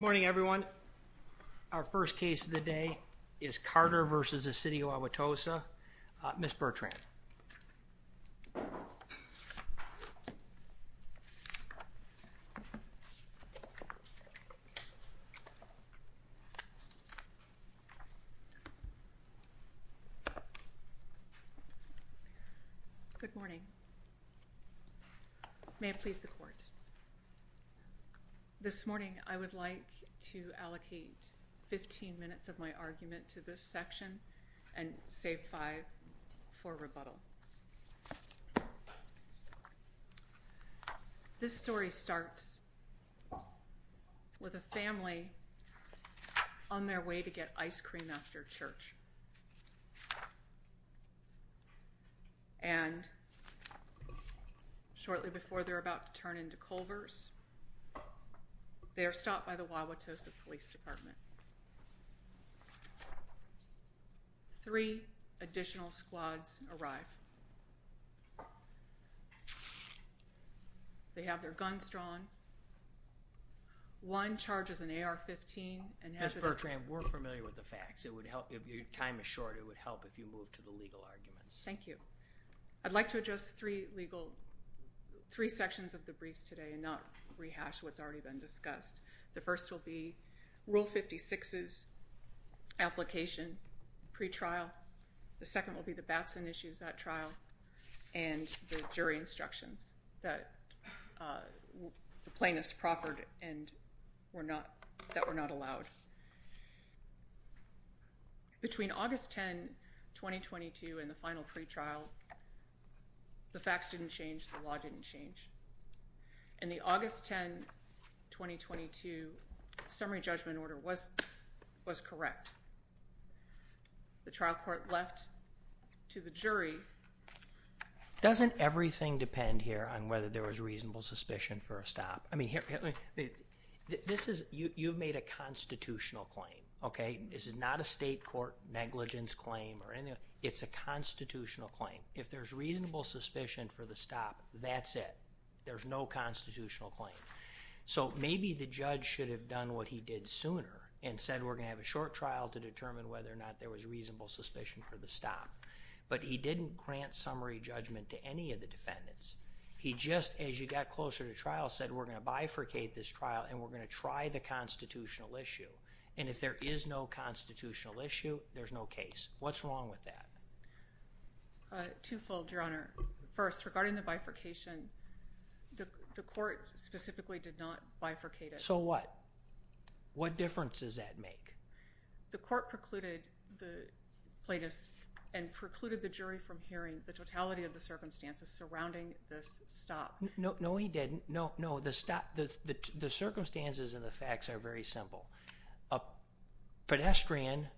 Good morning everyone. Our first case of the day is Carter v. City of Wauwatosa. Ms. Bertrand. Good morning. May it please the court. This morning I would like to allocate 15 minutes of my argument to this section and save five for rebuttal. This story starts with a family on their way to get ice cream after church. And shortly before they're about to turn into Culvers, they are stopped by the Wauwatosa Police Department. Three additional squads arrive. They have their guns drawn. One charges an AR-15. Ms. Bertrand, we're familiar with the facts. If your time is short, it would help if you moved to the legal arguments. Thank you. I'd like to address three sections of the briefs today and not rehash what's already been discussed. The first will be Rule 56's application pre-trial. The second will be the Batson issues at trial and the jury instructions that the plaintiffs proffered and that were not allowed. Between August 10, 2022 and the final pre-trial, the facts didn't change, the law didn't change. And the August 10, 2022 summary judgment order was correct. The trial court left to the jury. Doesn't everything depend here on whether there was reasonable suspicion for a stop? I mean, you've made a constitutional claim, okay? This is not a state court negligence claim or anything. It's a constitutional claim. If there's reasonable suspicion for the stop, that's it. There's no constitutional claim. So maybe the judge should have done what he did sooner and said we're going to have a short trial to determine whether or not there was reasonable suspicion for the stop. But he didn't grant summary judgment to any of the defendants. He just, as you got closer to trial, said we're going to bifurcate this trial and we're going to try the constitutional issue. And if there is no constitutional issue, there's no case. What's wrong with that? Twofold, Your Honor. First, regarding the bifurcation, the court specifically did not bifurcate it. So what? What difference does that make? The court precluded the plaintiffs and precluded the jury from hearing the totality of the circumstances surrounding this stop. No, he didn't. No, no. The circumstances and the facts are very simple. A pedestrian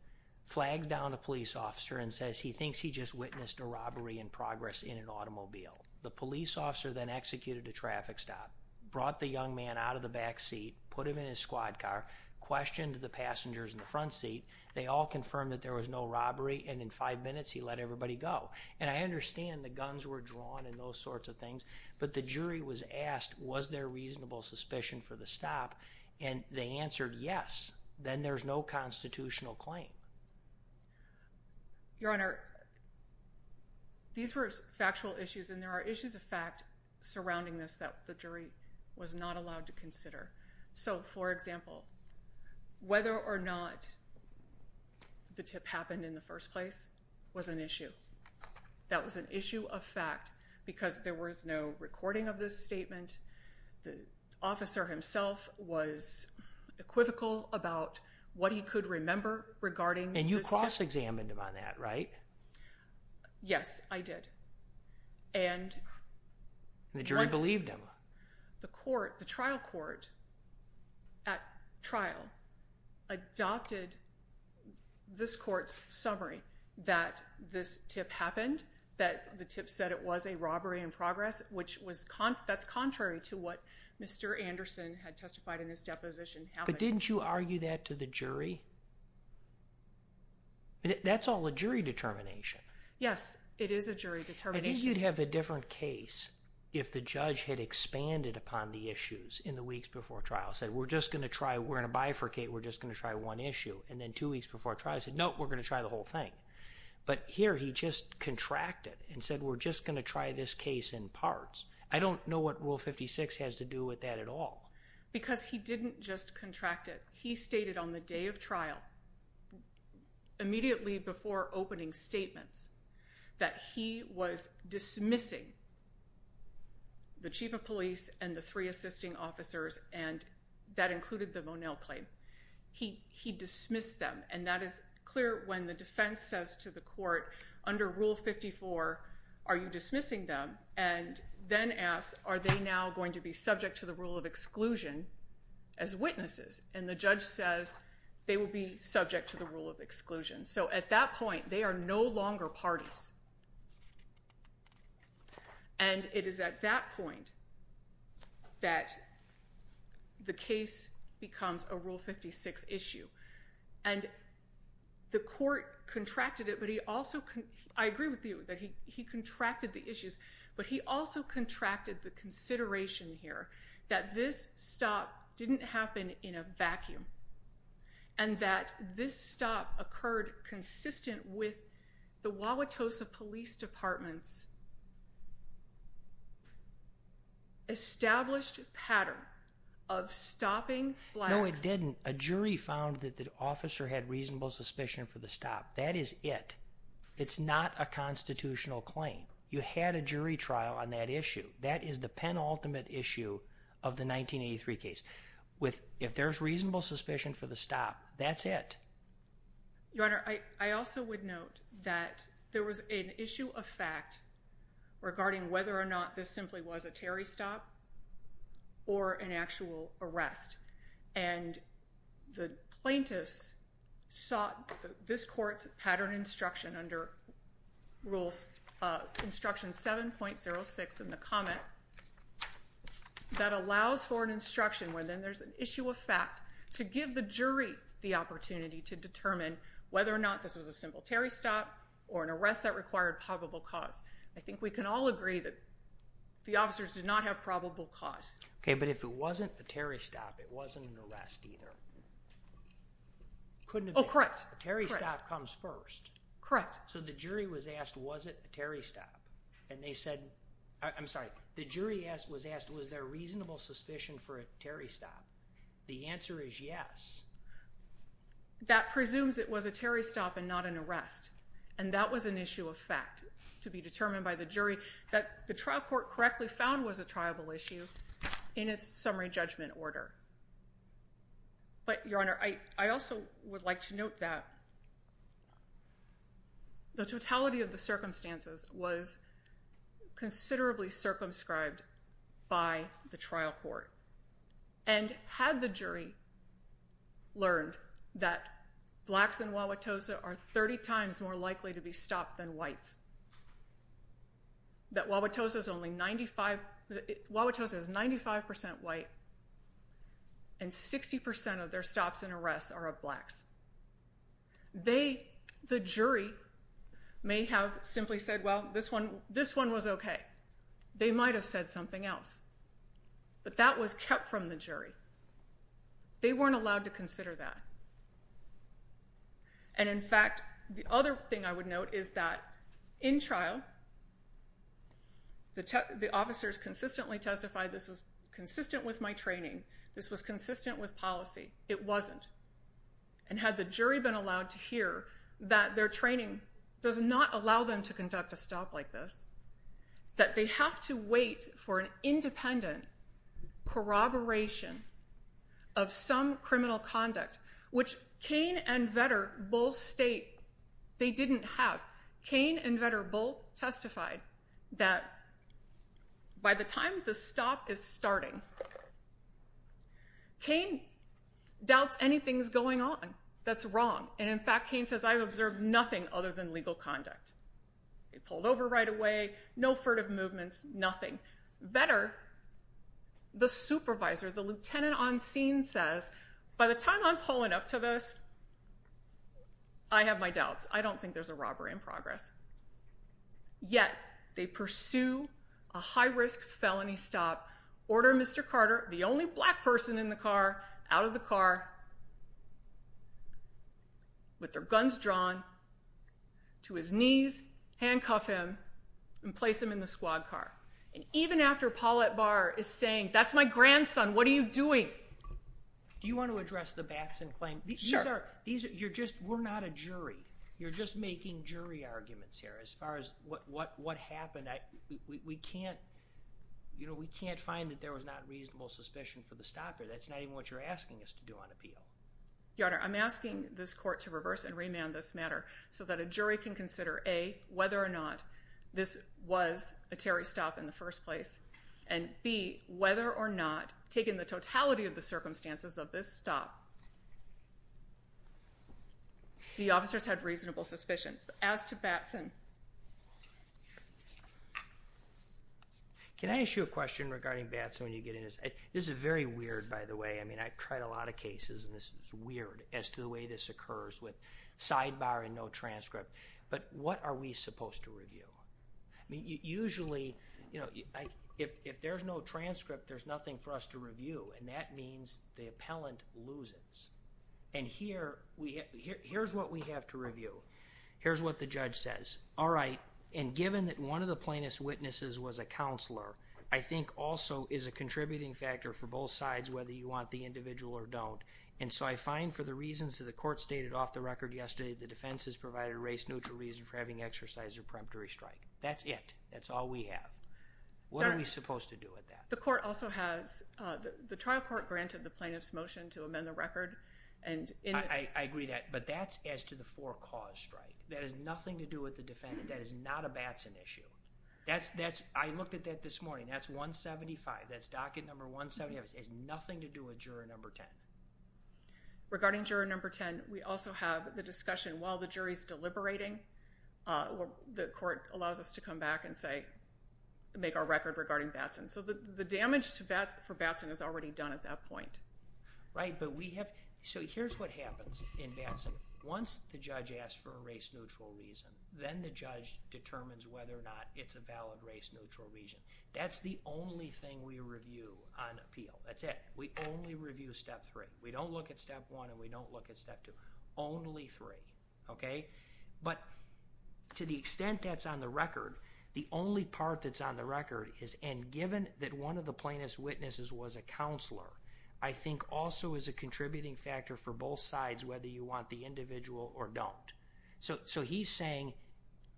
flags down a police officer and says he thinks he just witnessed a robbery in progress in an automobile. The police officer then executed a traffic stop, brought the young man out of the back seat, put him in his squad car, questioned the passengers in the front seat. They all confirmed that there was no robbery and in five minutes he let everybody go. And I understand the guns were drawn and those sorts of things. But the jury was asked, was there reasonable suspicion for the stop? And they answered yes. Then there's no constitutional claim. Your Honor, these were factual issues and there are issues of fact surrounding this that the jury was not allowed to consider. So, for example, whether or not the tip happened in the first place was an issue. That was an issue of fact because there was no recording of this statement. The officer himself was equivocal about what he could remember regarding this test. And you cross-examined him on that, right? Yes, I did. And the jury believed him. The trial court at trial adopted this court's summary that this tip happened, that the tip said it was a robbery in progress, which that's contrary to what Mr. Anderson had testified in this deposition. But didn't you argue that to the jury? That's all a jury determination. Yes, it is a jury determination. I think you'd have a different case if the judge had expanded upon the issues in the weeks before trial, said we're just going to try, we're going to bifurcate, we're just going to try one issue. And then two weeks before trial he said, no, we're going to try the whole thing. But here he just contracted and said we're just going to try this case in parts. I don't know what Rule 56 has to do with that at all. Because he didn't just contract it. He stated on the day of trial, immediately before opening statements, that he was dismissing the chief of police and the three assisting officers, and that included the Monell claim. He dismissed them. And that is clear when the defense says to the court, under Rule 54, are you dismissing them? And then asks, are they now going to be subject to the rule of exclusion as witnesses? And the judge says they will be subject to the rule of exclusion. So at that point they are no longer parties. And it is at that point that the case becomes a Rule 56 issue. And the court contracted it, but he also, I agree with you that he contracted the issues, but he also contracted the consideration here that this stop didn't happen in a vacuum. And that this stop occurred consistent with the Wauwatosa Police Department's established pattern of stopping Blacks. No, it didn't. A jury found that the officer had reasonable suspicion for the stop. That is it. It's not a constitutional claim. You had a jury trial on that issue. That is the penultimate issue of the 1983 case. If there's reasonable suspicion for the stop, that's it. Your Honor, I also would note that there was an issue of fact regarding whether or not this simply was a Terry stop or an actual arrest. And the plaintiffs sought this court's pattern instruction under Rules Instruction 7.06 in the comment that allows for an instruction where then there's an issue of fact to give the jury the opportunity to determine whether or not this was a simple Terry stop or an arrest that required probable cause. I think we can all agree that the officers did not have probable cause. Okay, but if it wasn't a Terry stop, it wasn't an arrest either. Oh, correct. A Terry stop comes first. Correct. So the jury was asked, was it a Terry stop? And they said, I'm sorry, the jury was asked, was there reasonable suspicion for a Terry stop? The answer is yes. That presumes it was a Terry stop and not an arrest. And that was an issue of fact to be determined by the jury that the trial court correctly found was a triable issue in its summary judgment order. But, Your Honor, I also would like to note that the totality of the circumstances was considerably circumscribed by the trial court. And had the jury learned that blacks in Wauwatosa are 30 times more likely to be stopped than whites, that Wauwatosa is 95% white and 60% of their stops and arrests are of blacks, the jury may have simply said, well, this one was okay. They might have said something else. But that was kept from the jury. They weren't allowed to consider that. And, in fact, the other thing I would note is that in trial, the officers consistently testified this was consistent with my training. This was consistent with policy. It wasn't. And had the jury been allowed to hear that their training does not allow them to conduct a stop like this, that they have to wait for an independent corroboration of some criminal conduct, which Cain and Vetter both state they didn't have. Cain and Vetter both testified that by the time the stop is starting, Cain doubts anything's going on that's wrong. And, in fact, Cain says, I've observed nothing other than legal conduct. They pulled over right away, no furtive movements, nothing. Vetter, the supervisor, the lieutenant on scene says, by the time I'm pulling up to this, I have my doubts. I don't think there's a robbery in progress. Yet, they pursue a high-risk felony stop, order Mr. Carter, the only black person in the car, out of the car, with their guns drawn, to his knees, handcuff him, and place him in the squad car. And even after Paulette Barr is saying, that's my grandson, what are you doing? Do you want to address the Batson claim? Sure. These are, you're just, we're not a jury. You're just making jury arguments here as far as what happened. We can't, you know, we can't find that there was not reasonable suspicion for the stopper. That's not even what you're asking us to do on appeal. Your Honor, I'm asking this court to reverse and remand this matter so that a jury can consider, A, whether or not this was a Terry stop in the first place, and B, whether or not, taking the totality of the circumstances of this stop, the officers had reasonable suspicion. As to Batson. Can I ask you a question regarding Batson when you get into this? This is very weird, by the way. I mean, I've tried a lot of cases, and this is weird as to the way this occurs with sidebar and no transcript. But what are we supposed to review? Usually, you know, if there's no transcript, there's nothing for us to review, and that means the appellant loses. And here, here's what we have to review. Here's what the judge says. All right, and given that one of the plaintiff's witnesses was a counselor, I think also is a contributing factor for both sides, whether you want the individual or don't. And so I find for the reasons that the court stated off the record yesterday, the defense has provided a race-neutral reason for having exercised a preemptory strike. That's it. That's all we have. What are we supposed to do with that? The court also has, the trial court granted the plaintiff's motion to amend the record. I agree with that, but that's as to the for-cause strike. That has nothing to do with the defendant. That is not a Batson issue. I looked at that this morning. That's 175. That's docket number 175. It has nothing to do with juror number 10. Regarding juror number 10, we also have the discussion, while the jury's deliberating, the court allows us to come back and say, make our record regarding Batson. So the damage for Batson is already done at that point. Right, but we have, so here's what happens in Batson. Once the judge asks for a race-neutral reason, then the judge determines whether or not it's a valid race-neutral reason. That's the only thing we review on appeal. That's it. We only review step three. We don't look at step one and we don't look at step two. Only three. Okay? But to the extent that's on the record, the only part that's on the record is, and given that one of the plaintiff's witnesses was a counselor, I think also is a contributing factor for both sides whether you want the individual or don't. So he's saying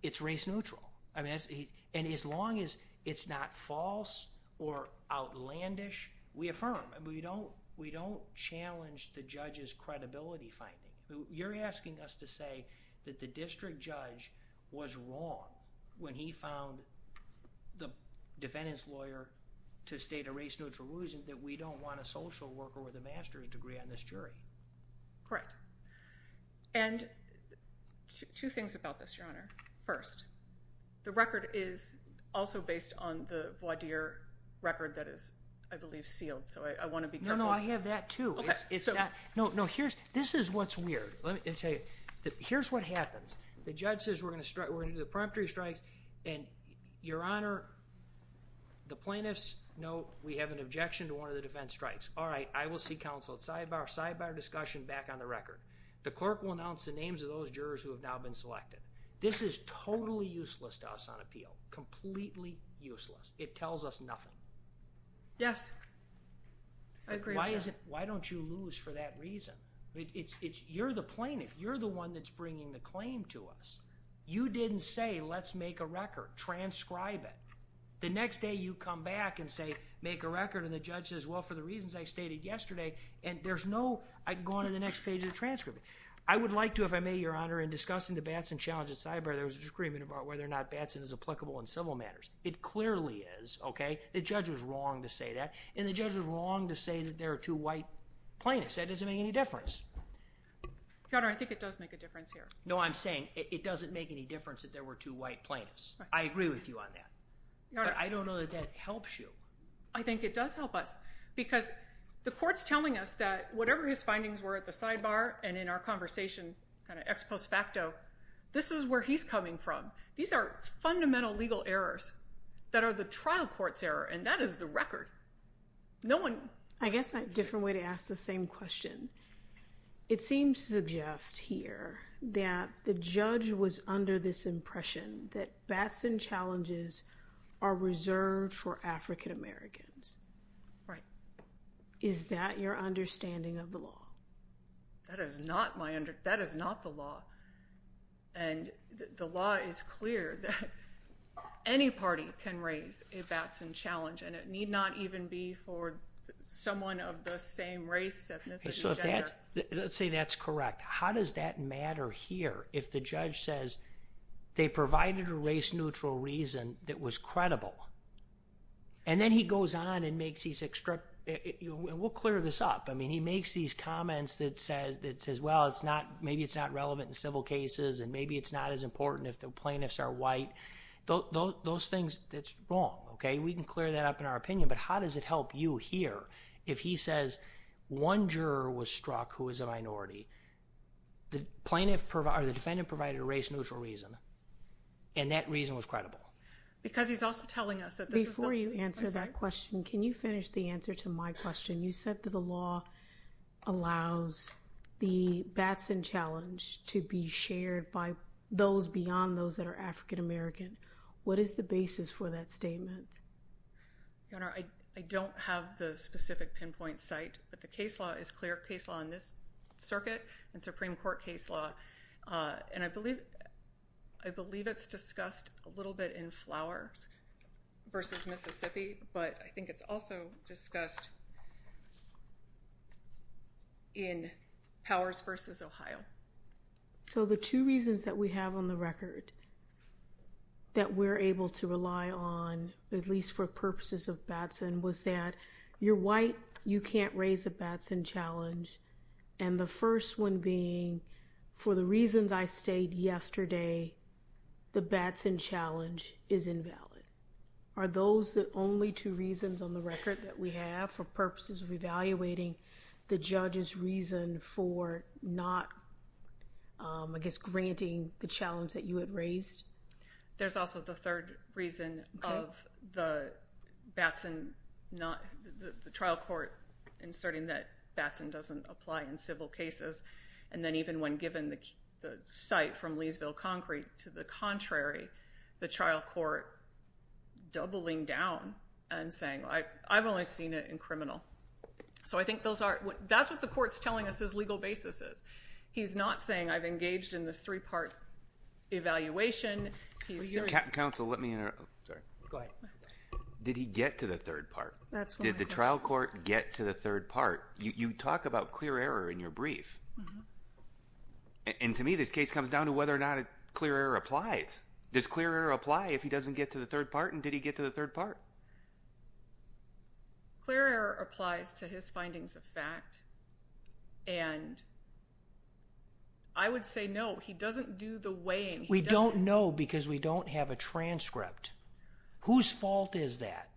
it's race-neutral. And as long as it's not false or outlandish, we affirm. We don't challenge the judge's credibility finding. You're asking us to say that the district judge was wrong when he found the defendant's lawyer to state a race-neutral reason that we don't want a social worker with a master's degree on this jury. Correct. And two things about this, Your Honor. First, the record is also based on the voir dire record that is, I believe, sealed. So I want to be careful. No, no. I have that, too. No, no. This is what's weird. Let me tell you. Here's what happens. The judge says we're going to do the preemptory strikes. And, Your Honor, the plaintiffs know we have an objection to one of the defense strikes. All right. I will see counsel at sidebar. Sidebar discussion back on the record. The clerk will announce the names of those jurors who have now been selected. This is totally useless to us on appeal, completely useless. It tells us nothing. Yes. I agree with that. Why don't you lose for that reason? You're the plaintiff. You're the one that's bringing the claim to us. You didn't say let's make a record, transcribe it. The next day you come back and say make a record, and the judge says, well, for the reasons I stated yesterday, and there's no, I can go on to the next page of the transcript. I would like to, if I may, Your Honor, in discussing the Batson challenge at sidebar, there was an agreement about whether or not Batson is applicable in civil matters. It clearly is, okay? The judge was wrong to say that. And the judge was wrong to say that there are two white plaintiffs. That doesn't make any difference. Your Honor, I think it does make a difference here. No, I'm saying it doesn't make any difference that there were two white plaintiffs. I agree with you on that. But I don't know that that helps you. I think it does help us because the court's telling us that whatever his findings were at the sidebar and in our conversation, kind of ex post facto, this is where he's coming from. These are fundamental legal errors that are the trial court's error, and that is the record. No one. I guess a different way to ask the same question. It seems to suggest here that the judge was under this impression that Batson challenges are reserved for African Americans. Right. Is that your understanding of the law? That is not the law. And the law is clear that any party can raise a Batson challenge, and it need not even be for someone of the same race, ethnicity. Let's say that's correct. How does that matter here if the judge says they provided a race-neutral reason that was credible? And then he goes on and makes these extracts. We'll clear this up. I mean, he makes these comments that says, well, maybe it's not relevant in civil cases, and maybe it's not as important if the plaintiffs are white. Those things, that's wrong, okay? We can clear that up in our opinion, but how does it help you here if he says one juror was struck who is a minority, the defendant provided a race-neutral reason, and that reason was credible? Because he's also telling us that this is the— Before you answer that question, can you finish the answer to my question? You said that the law allows the Batson challenge to be shared by those beyond those that are African American. What is the basis for that statement? Your Honor, I don't have the specific pinpoint site, but the case law is clear case law in this circuit and Supreme Court case law, and I believe it's discussed a little bit in Flowers v. Mississippi, but I think it's also discussed in Powers v. Ohio. So the two reasons that we have on the record that we're able to rely on, at least for purposes of Batson, was that you're white, you can't raise a Batson challenge, and the first one being for the reasons I stated yesterday, the Batson challenge is invalid. Are those the only two reasons on the record that we have for purposes of evaluating the judge's reason for not, I guess, granting the challenge that you had raised? There's also the third reason of the Batson not—the trial court inserting that Batson doesn't apply in civil cases, and then even when given the site from Leesville Concrete to the contrary, the trial court doubling down and saying, I've only seen it in criminal. So I think those are—that's what the court's telling us his legal basis is. He's not saying I've engaged in this three-part evaluation. Counsel, let me interrupt. Go ahead. Did he get to the third part? Did the trial court get to the third part? You talk about clear error in your brief, and to me this case comes down to whether or not clear error applies. Does clear error apply if he doesn't get to the third part, and did he get to the third part? Clear error applies to his findings of fact, and I would say no. He doesn't do the weighing. We don't know because we don't have a transcript. Whose fault is that?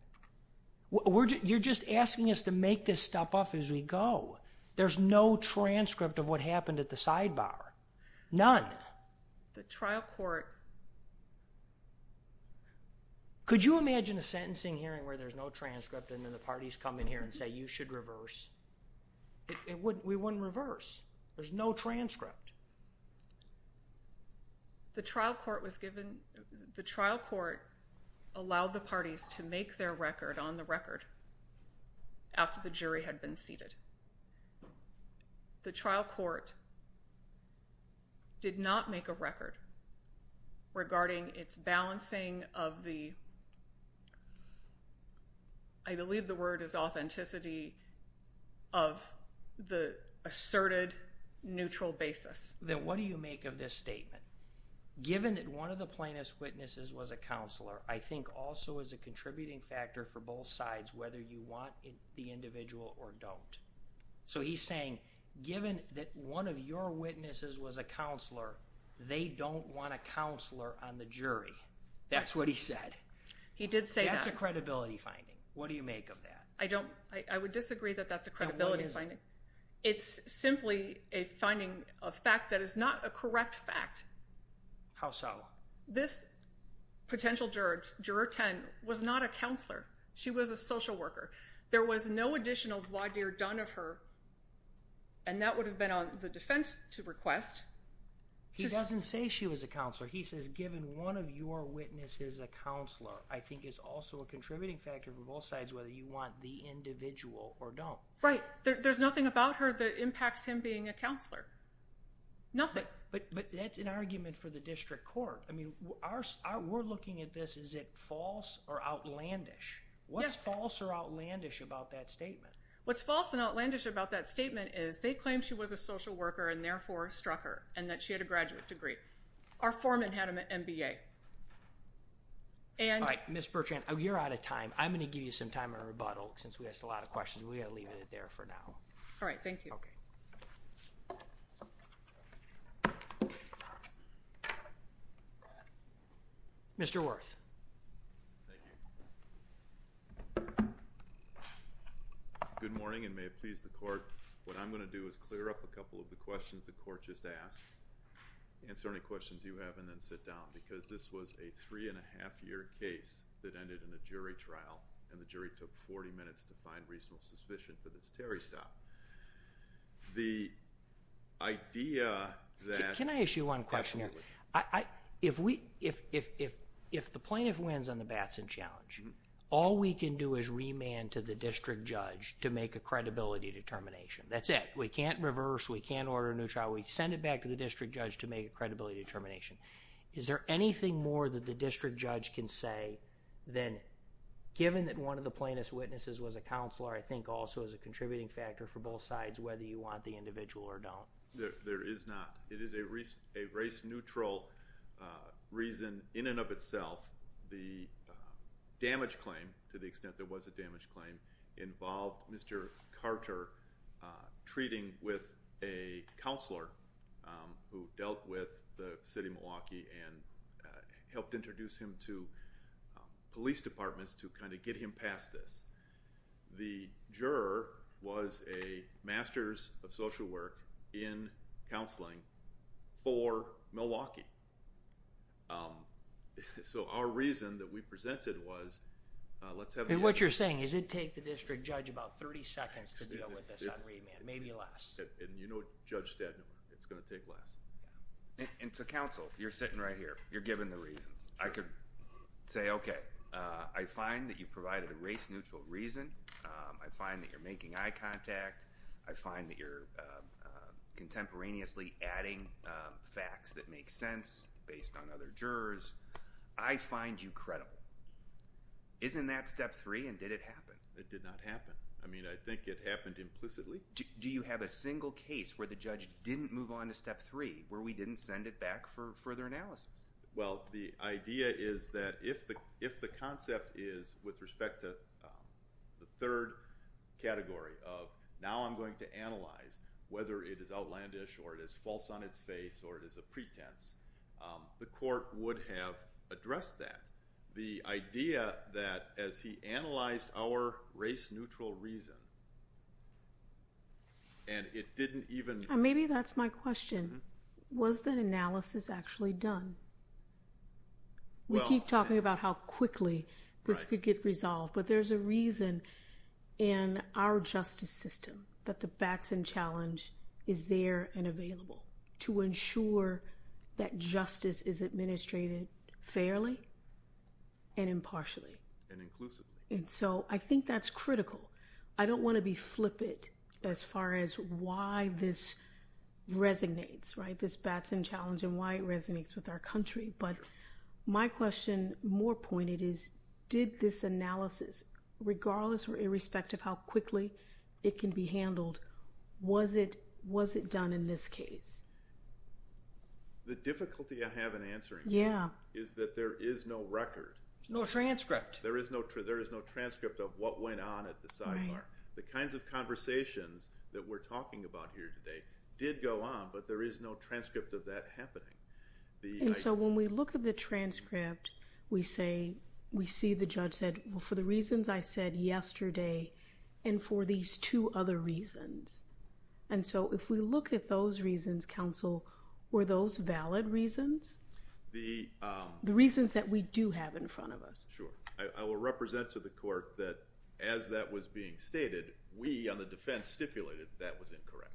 You're just asking us to make this step up as we go. There's no transcript of what happened at the sidebar. None. The trial court— Could you imagine a sentencing hearing where there's no transcript and then the parties come in here and say you should reverse? We wouldn't reverse. There's no transcript. The trial court allowed the parties to make their record on the record after the jury had been seated. The trial court did not make a record regarding its balancing of the— I believe the word is authenticity— of the asserted neutral basis. Then what do you make of this statement? Given that one of the plaintiff's witnesses was a counselor, I think also is a contributing factor for both sides whether you want the individual or don't. So he's saying given that one of your witnesses was a counselor, they don't want a counselor on the jury. That's what he said. He did say that. That's a credibility finding. What do you make of that? I would disagree that that's a credibility finding. It's simply a finding of fact that is not a correct fact. How so? This potential juror, juror 10, was not a counselor. She was a social worker. There was no additional voir dire done of her, and that would have been on the defense to request. He doesn't say she was a counselor. He says given one of your witnesses is a counselor, I think is also a contributing factor for both sides whether you want the individual or don't. Right. There's nothing about her that impacts him being a counselor. Nothing. But that's an argument for the district court. I mean, we're looking at this, is it false or outlandish? What's false or outlandish about that statement? What's false and outlandish about that statement is they claim she was a social worker and therefore struck her and that she had a graduate degree. Our foreman had an MBA. All right. Ms. Bertrand, you're out of time. I'm going to give you some time to rebuttal since we asked a lot of questions. We're going to leave it there for now. All right. Thank you. Okay. Mr. Worth. Thank you. Good morning and may it please the court. What I'm going to do is clear up a couple of the questions the court just asked, answer any questions you have and then sit down because this was a three-and-a-half-year case that ended in a jury trial and the jury took 40 minutes to find reasonable suspicion for this Terry stop. The idea that... Can I ask you one question here? Absolutely. If the plaintiff wins on the Batson Challenge, all we can do is remand to the district judge to make a credibility determination. That's it. We can't reverse. We can't order a new trial. We send it back to the district judge to make a credibility determination. Is there anything more that the district judge can say than given that one of the plaintiff's witnesses was a counselor, I think also is a contributing factor for both sides whether you want the individual or don't? There is not. It is a race-neutral reason in and of itself. The damage claim, to the extent there was a damage claim, involved Mr. Carter treating with a counselor who dealt with the city of Milwaukee and helped introduce him to police departments to kind of get him past this. The juror was a Master's of Social Work in Counseling for Milwaukee. Our reason that we presented was... What you're saying is it takes the district judge about 30 seconds to deal with this on remand, maybe less. You know Judge Stadnor, it's going to take less. To counsel, you're sitting right here. You're given the reasons. I could say, okay, I find that you provided a race-neutral reason. I find that you're making eye contact. I find that you're contemporaneously adding facts that make sense based on other jurors. I find you credible. Isn't that Step 3, and did it happen? It did not happen. I mean, I think it happened implicitly. Do you have a single case where the judge didn't move on to Step 3, where we didn't send it back for further analysis? Well, the idea is that if the concept is with respect to the third category of now I'm going to analyze whether it is outlandish or it is false on its face or it is a pretense, the court would have addressed that. The idea that as he analyzed our race-neutral reason, and it didn't even... Maybe that's my question. Was that analysis actually done? We keep talking about how quickly this could get resolved, but there's a reason in our justice system that the Batson Challenge is there and available to ensure that justice is administrated fairly and impartially. And inclusively. And so I think that's critical. I don't want to be flippant as far as why this resonates, right, this Batson Challenge and why it resonates with our country. But my question, more pointed, is did this analysis, regardless or irrespective of how quickly it can be handled, was it done in this case? The difficulty I have in answering that is that there is no record. There's no transcript. There is no transcript of what went on at the sidebar. The kinds of conversations that we're talking about here today did go on, but there is no transcript of that happening. And so when we look at the transcript, we see the judge said, well, for the reasons I said yesterday and for these two other reasons. And so if we look at those reasons, counsel, were those valid reasons? The reasons that we do have in front of us. Sure. I will represent to the court that as that was being stated, we on the defense stipulated that that was incorrect.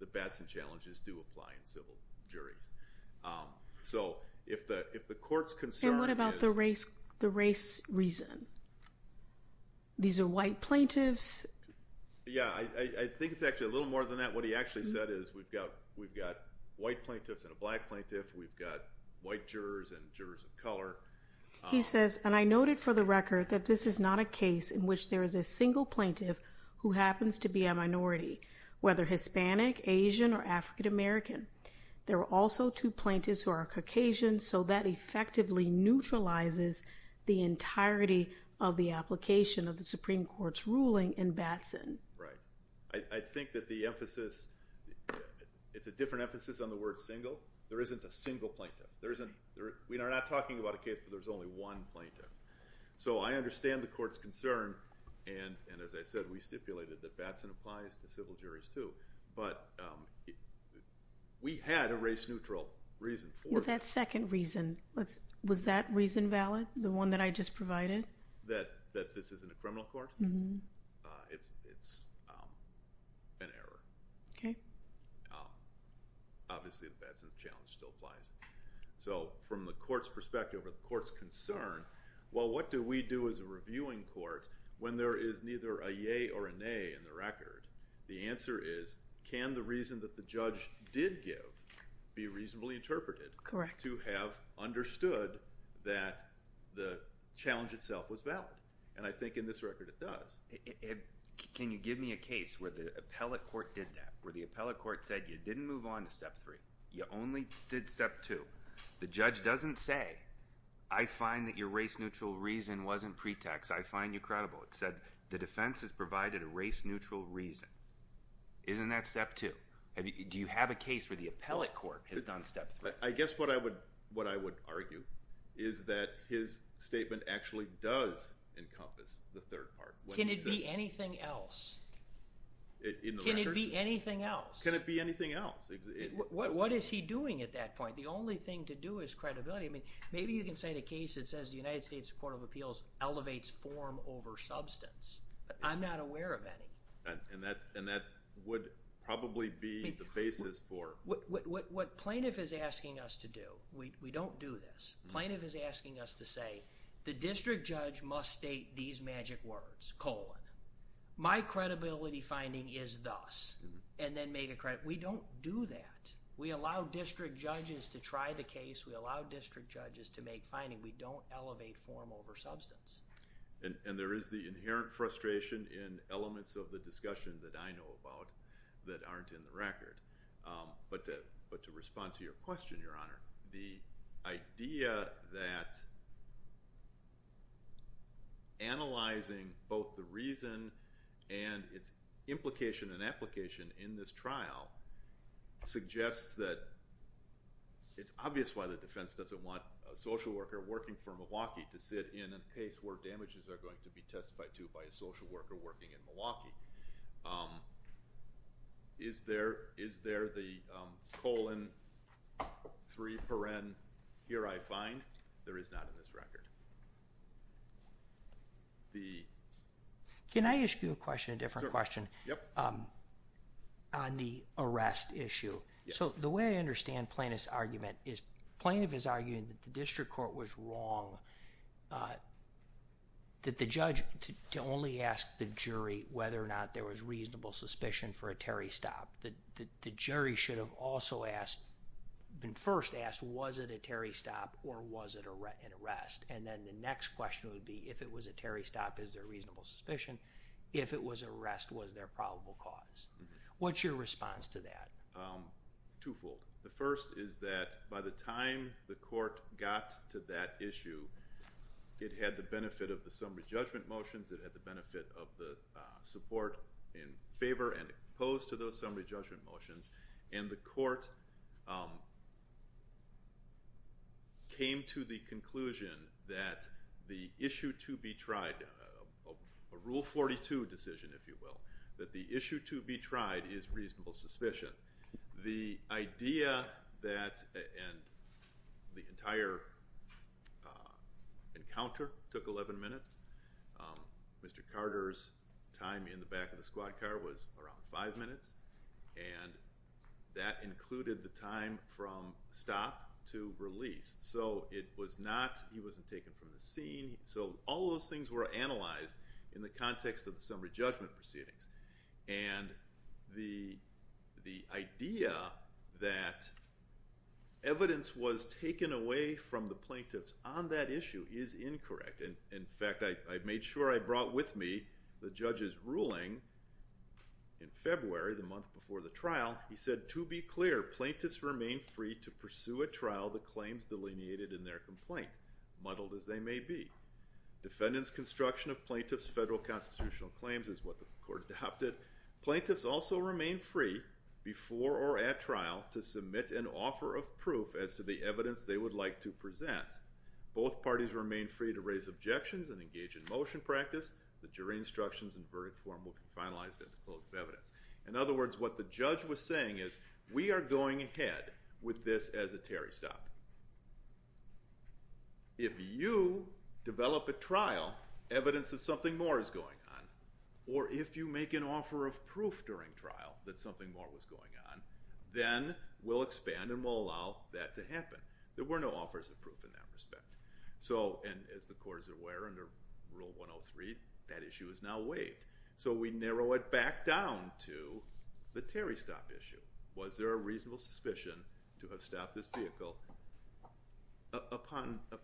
The Batson Challenges do apply in civil juries. So if the court's concern is. And what about the race reason? These are white plaintiffs. Yeah, I think it's actually a little more than that. What he actually said is we've got white plaintiffs and a black plaintiff. We've got white jurors and jurors of color. He says, and I noted for the record that this is not a case in which there is a single plaintiff who happens to be a minority, whether Hispanic, Asian, or African American. There are also two plaintiffs who are Caucasian. So that effectively neutralizes the entirety of the application of the Supreme Court's ruling in Batson. Right. I think that the emphasis, it's a different emphasis on the word single. There isn't a single plaintiff. We are not talking about a case where there's only one plaintiff. So I understand the court's concern. And as I said, we stipulated that Batson applies to civil juries too. But we had a race-neutral reason for it. That second reason, was that reason valid, the one that I just provided? That this isn't a criminal court? Mm-hmm. It's an error. Okay. Obviously, the Batson challenge still applies. So from the court's perspective or the court's concern, well, what do we do as a reviewing court when there is neither a yea or a nay in the record? The answer is can the reason that the judge did give be reasonably interpreted? Correct. To have understood that the challenge itself was valid. And I think in this record it does. Can you give me a case where the appellate court did that, where the appellate court said you didn't move on to Step 3, you only did Step 2. The judge doesn't say, I find that your race-neutral reason wasn't pretext. I find you credible. It said the defense has provided a race-neutral reason. Isn't that Step 2? Do you have a case where the appellate court has done Step 3? I guess what I would argue is that his statement actually does encompass the third part. Can it be anything else? In the record? Can it be anything else? Can it be anything else? What is he doing at that point? The only thing to do is credibility. Maybe you can cite a case that says the United States Court of Appeals elevates form over substance. I'm not aware of any. And that would probably be the basis for. What plaintiff is asking us to do, we don't do this. Plaintiff is asking us to say, the district judge must state these magic words, colon. My credibility finding is thus. And then make a credit. We don't do that. We allow district judges to try the case. We allow district judges to make findings. And we don't elevate form over substance. And there is the inherent frustration in elements of the discussion that I know about that aren't in the record. But to respond to your question, Your Honor, the idea that analyzing both the reason and its implication and application in this trial suggests that it's obvious why the defense doesn't want a social worker working for Milwaukee to sit in a case where damages are going to be testified to by a social worker working in Milwaukee. Is there the colon, three paren, here I find? There is not in this record. The. Can I ask you a question, a different question? Sure. Yep. On the arrest issue. Yes. The way I understand Plaintiff's argument is Plaintiff is arguing that the district court was wrong that the judge to only ask the jury whether or not there was reasonable suspicion for a Terry stop. The jury should have also asked, been first asked, was it a Terry stop or was it an arrest? And then the next question would be, if it was a Terry stop, is there reasonable suspicion? If it was an arrest, was there probable cause? What's your response to that? Twofold. The first is that by the time the court got to that issue, it had the benefit of the summary judgment motions, it had the benefit of the support in favor and opposed to those summary judgment motions, and the court came to the conclusion that the issue to be tried, a rule 42 decision, if you will, that the issue to be tried is reasonable suspicion. The idea that the entire encounter took 11 minutes. Mr. Carter's time in the back of the squad car was around five minutes, and that included the time from stop to release. So it was not, he wasn't taken from the scene. So all those things were analyzed in the context of the summary judgment proceedings. And the idea that evidence was taken away from the plaintiffs on that issue is incorrect. In fact, I made sure I brought with me the judge's ruling in February, the month before the trial. He said, to be clear, plaintiffs remain free to pursue at trial the claims delineated in their complaint, muddled as they may be. Defendants' construction of plaintiffs' federal constitutional claims is what the court adopted. Plaintiffs also remain free before or at trial to submit an offer of proof as to the evidence they would like to present. Both parties remain free to raise objections and engage in motion practice. The jury instructions and verdict form will be finalized at the close of evidence. In other words, what the judge was saying is, we are going ahead with this as a Terry stop. If you develop at trial evidence that something more is going on, or if you make an offer of proof during trial that something more was going on, then we'll expand and we'll allow that to happen. There were no offers of proof in that respect. And as the court is aware, under Rule 103, that issue is now waived. So we narrow it back down to the Terry stop issue. Was there a reasonable suspicion to have stopped this vehicle upon a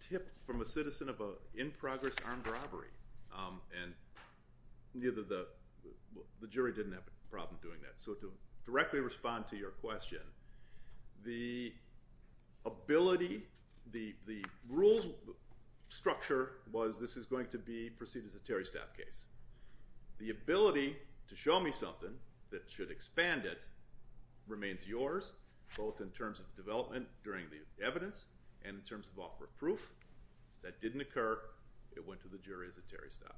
tip from a citizen of an in-progress armed robbery? And the jury didn't have a problem doing that. So to directly respond to your question, the ability, the rules structure was this is going to be perceived as a Terry stop case. The ability to show me something that should expand it remains yours, both in terms of development during the evidence and in terms of offer of proof. That didn't occur. It went to the jury as a Terry stop.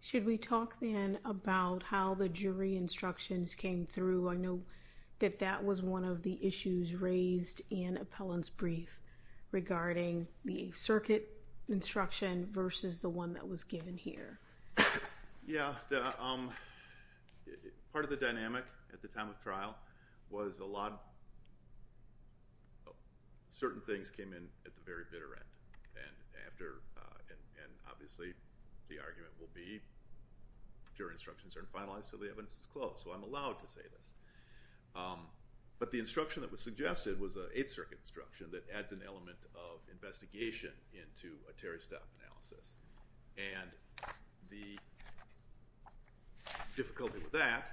Should we talk then about how the jury instructions came through? I know that that was one of the issues raised in Appellant's brief regarding the circuit instruction versus the one that was given here. Yeah. Part of the dynamic at the time of trial was a lot of certain things came in at the very bitter end. And obviously the argument will be jury instructions aren't finalized until the evidence is closed. So I'm allowed to say this. But the instruction that was suggested was an Eighth Circuit instruction that adds an element of investigation into a Terry stop analysis. And the difficulty with that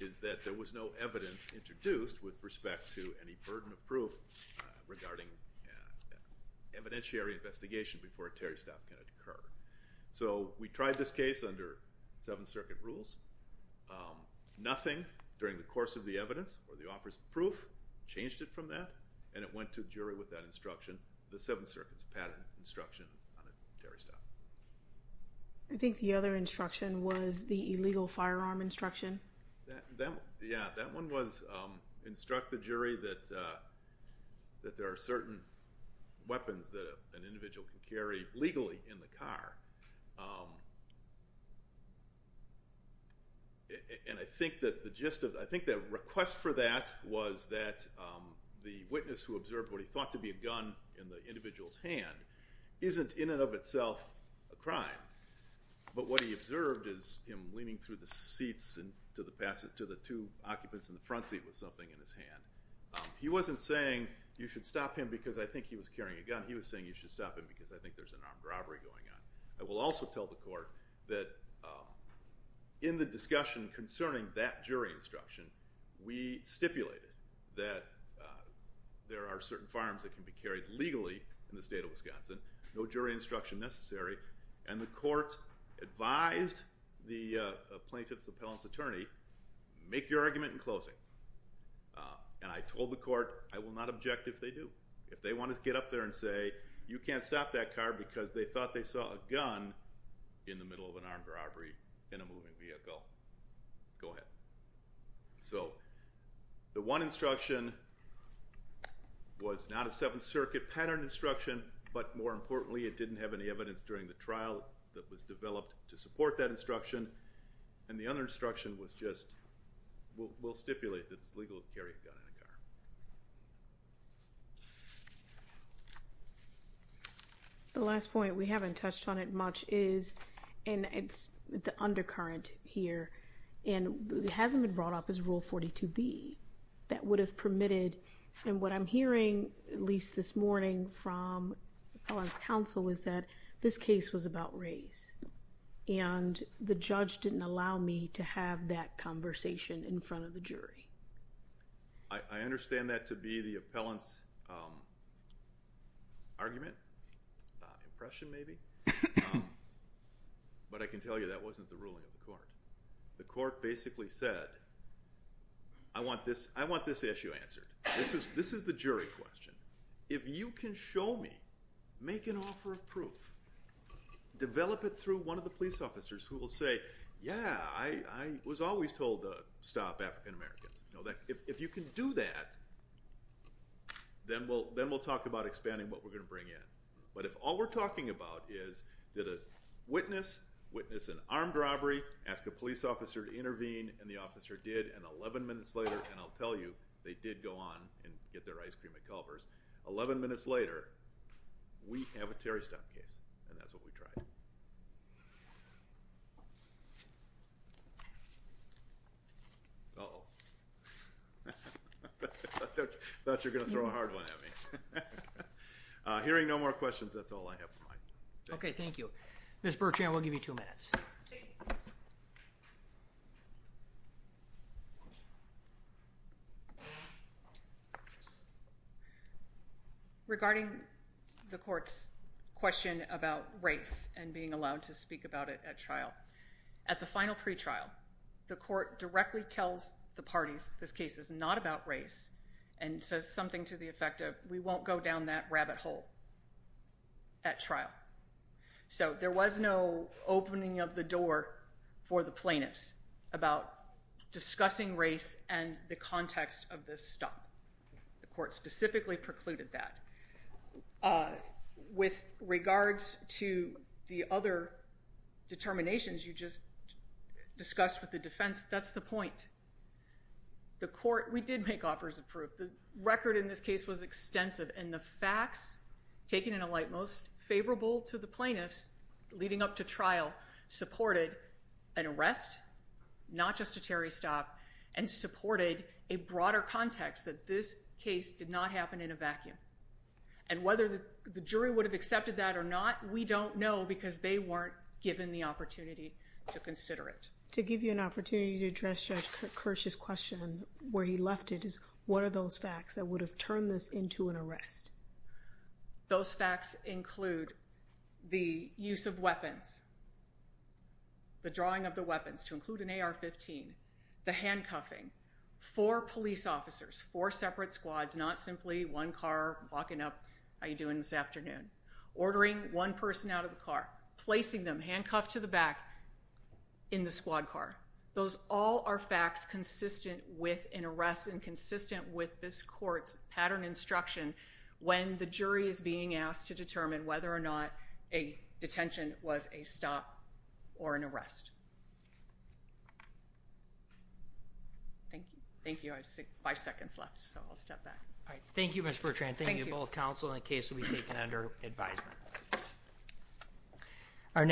is that there was no evidence introduced with respect to any burden of proof regarding evidentiary investigation before a Terry stop can occur. So we tried this case under Seventh Circuit rules. Nothing during the course of the evidence or the offer of proof changed it from that. And it went to the jury with that instruction, the Seventh Circuit's patent instruction on a Terry stop. I think the other instruction was the illegal firearm instruction. Yeah, that one was instruct the jury that there are certain weapons that an individual can carry legally in the car. And I think that the gist of it, I think the request for that was that the witness who observed what he thought to be a gun in the individual's hand isn't in and of itself a crime. But what he observed is him leaning through the seats to the two occupants in the front seat with something in his hand. He wasn't saying you should stop him because I think he was carrying a gun. He was saying you should stop him because I think there's an armed robbery going on. I will also tell the court that in the discussion concerning that jury instruction, we stipulated that there are certain firearms that can be carried legally in the state of Wisconsin, no jury instruction necessary. And the court advised the plaintiff's appellant's attorney, make your argument in closing. And I told the court, I will not object if they do. If they want to get up there and say, you can't stop that car because they thought they saw a gun in the middle of an armed robbery in a moving vehicle. Go ahead. So the one instruction was not a Seventh Circuit pattern instruction, but more importantly, it didn't have any evidence during the trial that was developed to support that instruction. And the other instruction was just, we'll stipulate that it's legal to carry a gun in a car. The last point we haven't touched on it much is, and it's the undercurrent here, and it hasn't been brought up as Rule 42B. That would have permitted, and what I'm hearing at least this morning from appellant's counsel is that this case was about race. And the judge didn't allow me to have that conversation in front of the jury. I understand that to be the appellant's argument, impression maybe. But I can tell you that wasn't the ruling of the court. The court basically said, I want this issue answered. This is the jury question. If you can show me, make an offer of proof, develop it through one of the police officers who will say, yeah, I was always told to stop African Americans. If you can do that, then we'll talk about expanding what we're going to bring in. But if all we're talking about is, did a witness, witness an armed robbery, ask a police officer to intervene. And the officer did. And 11 minutes later, and I'll tell you, they did go on and get their ice cream at Culver's. 11 minutes later, we have a Terry stop case. And that's what we tried. Oh, I thought you're going to throw a hard one at me. Hearing no more questions. That's all I have in mind. Okay. Thank you. Ms. Regarding. The court's question about race and being allowed to speak about it at trial. At the final pretrial. The court directly tells the parties. This case is not about race. And so something to the effect of, we won't go down that rabbit hole. At trial. So there was no opening of the door. For the plaintiffs. About discussing race and the context of this stuff. The court specifically precluded that. With regards to the other. Determinations. You just. Discussed with the defense. That's the point. The court, we did make offers of proof. The record in this case was extensive and the facts. Taken in a light, most favorable to the plaintiffs. Leading up to trial supported. An arrest. Not just a Terry stop. And supported a broader context that this case did not happen in a vacuum. And whether the, the jury would have accepted that or not. We don't know because they weren't given the opportunity. To consider it, to give you an opportunity to address. The question where he left it is. What are those facts that would have turned this into an arrest? Those facts include. The use of weapons. The drawing of the weapons to include an AR 15. The handcuffing for police officers, four separate squads, not simply one car walking up. How are you doing this afternoon? Ordering one person out of the car, placing them handcuffed to the back. In the squad car. Those all are facts consistent with an arrest and consistent with this court's pattern instruction. When the jury is being asked to determine whether or not a detention was a stop. Or an arrest. Thank you. Thank you. I have five seconds left. So I'll step back. All right. Thank you. Mr. Bertrand. Thank you. All right. Thank you.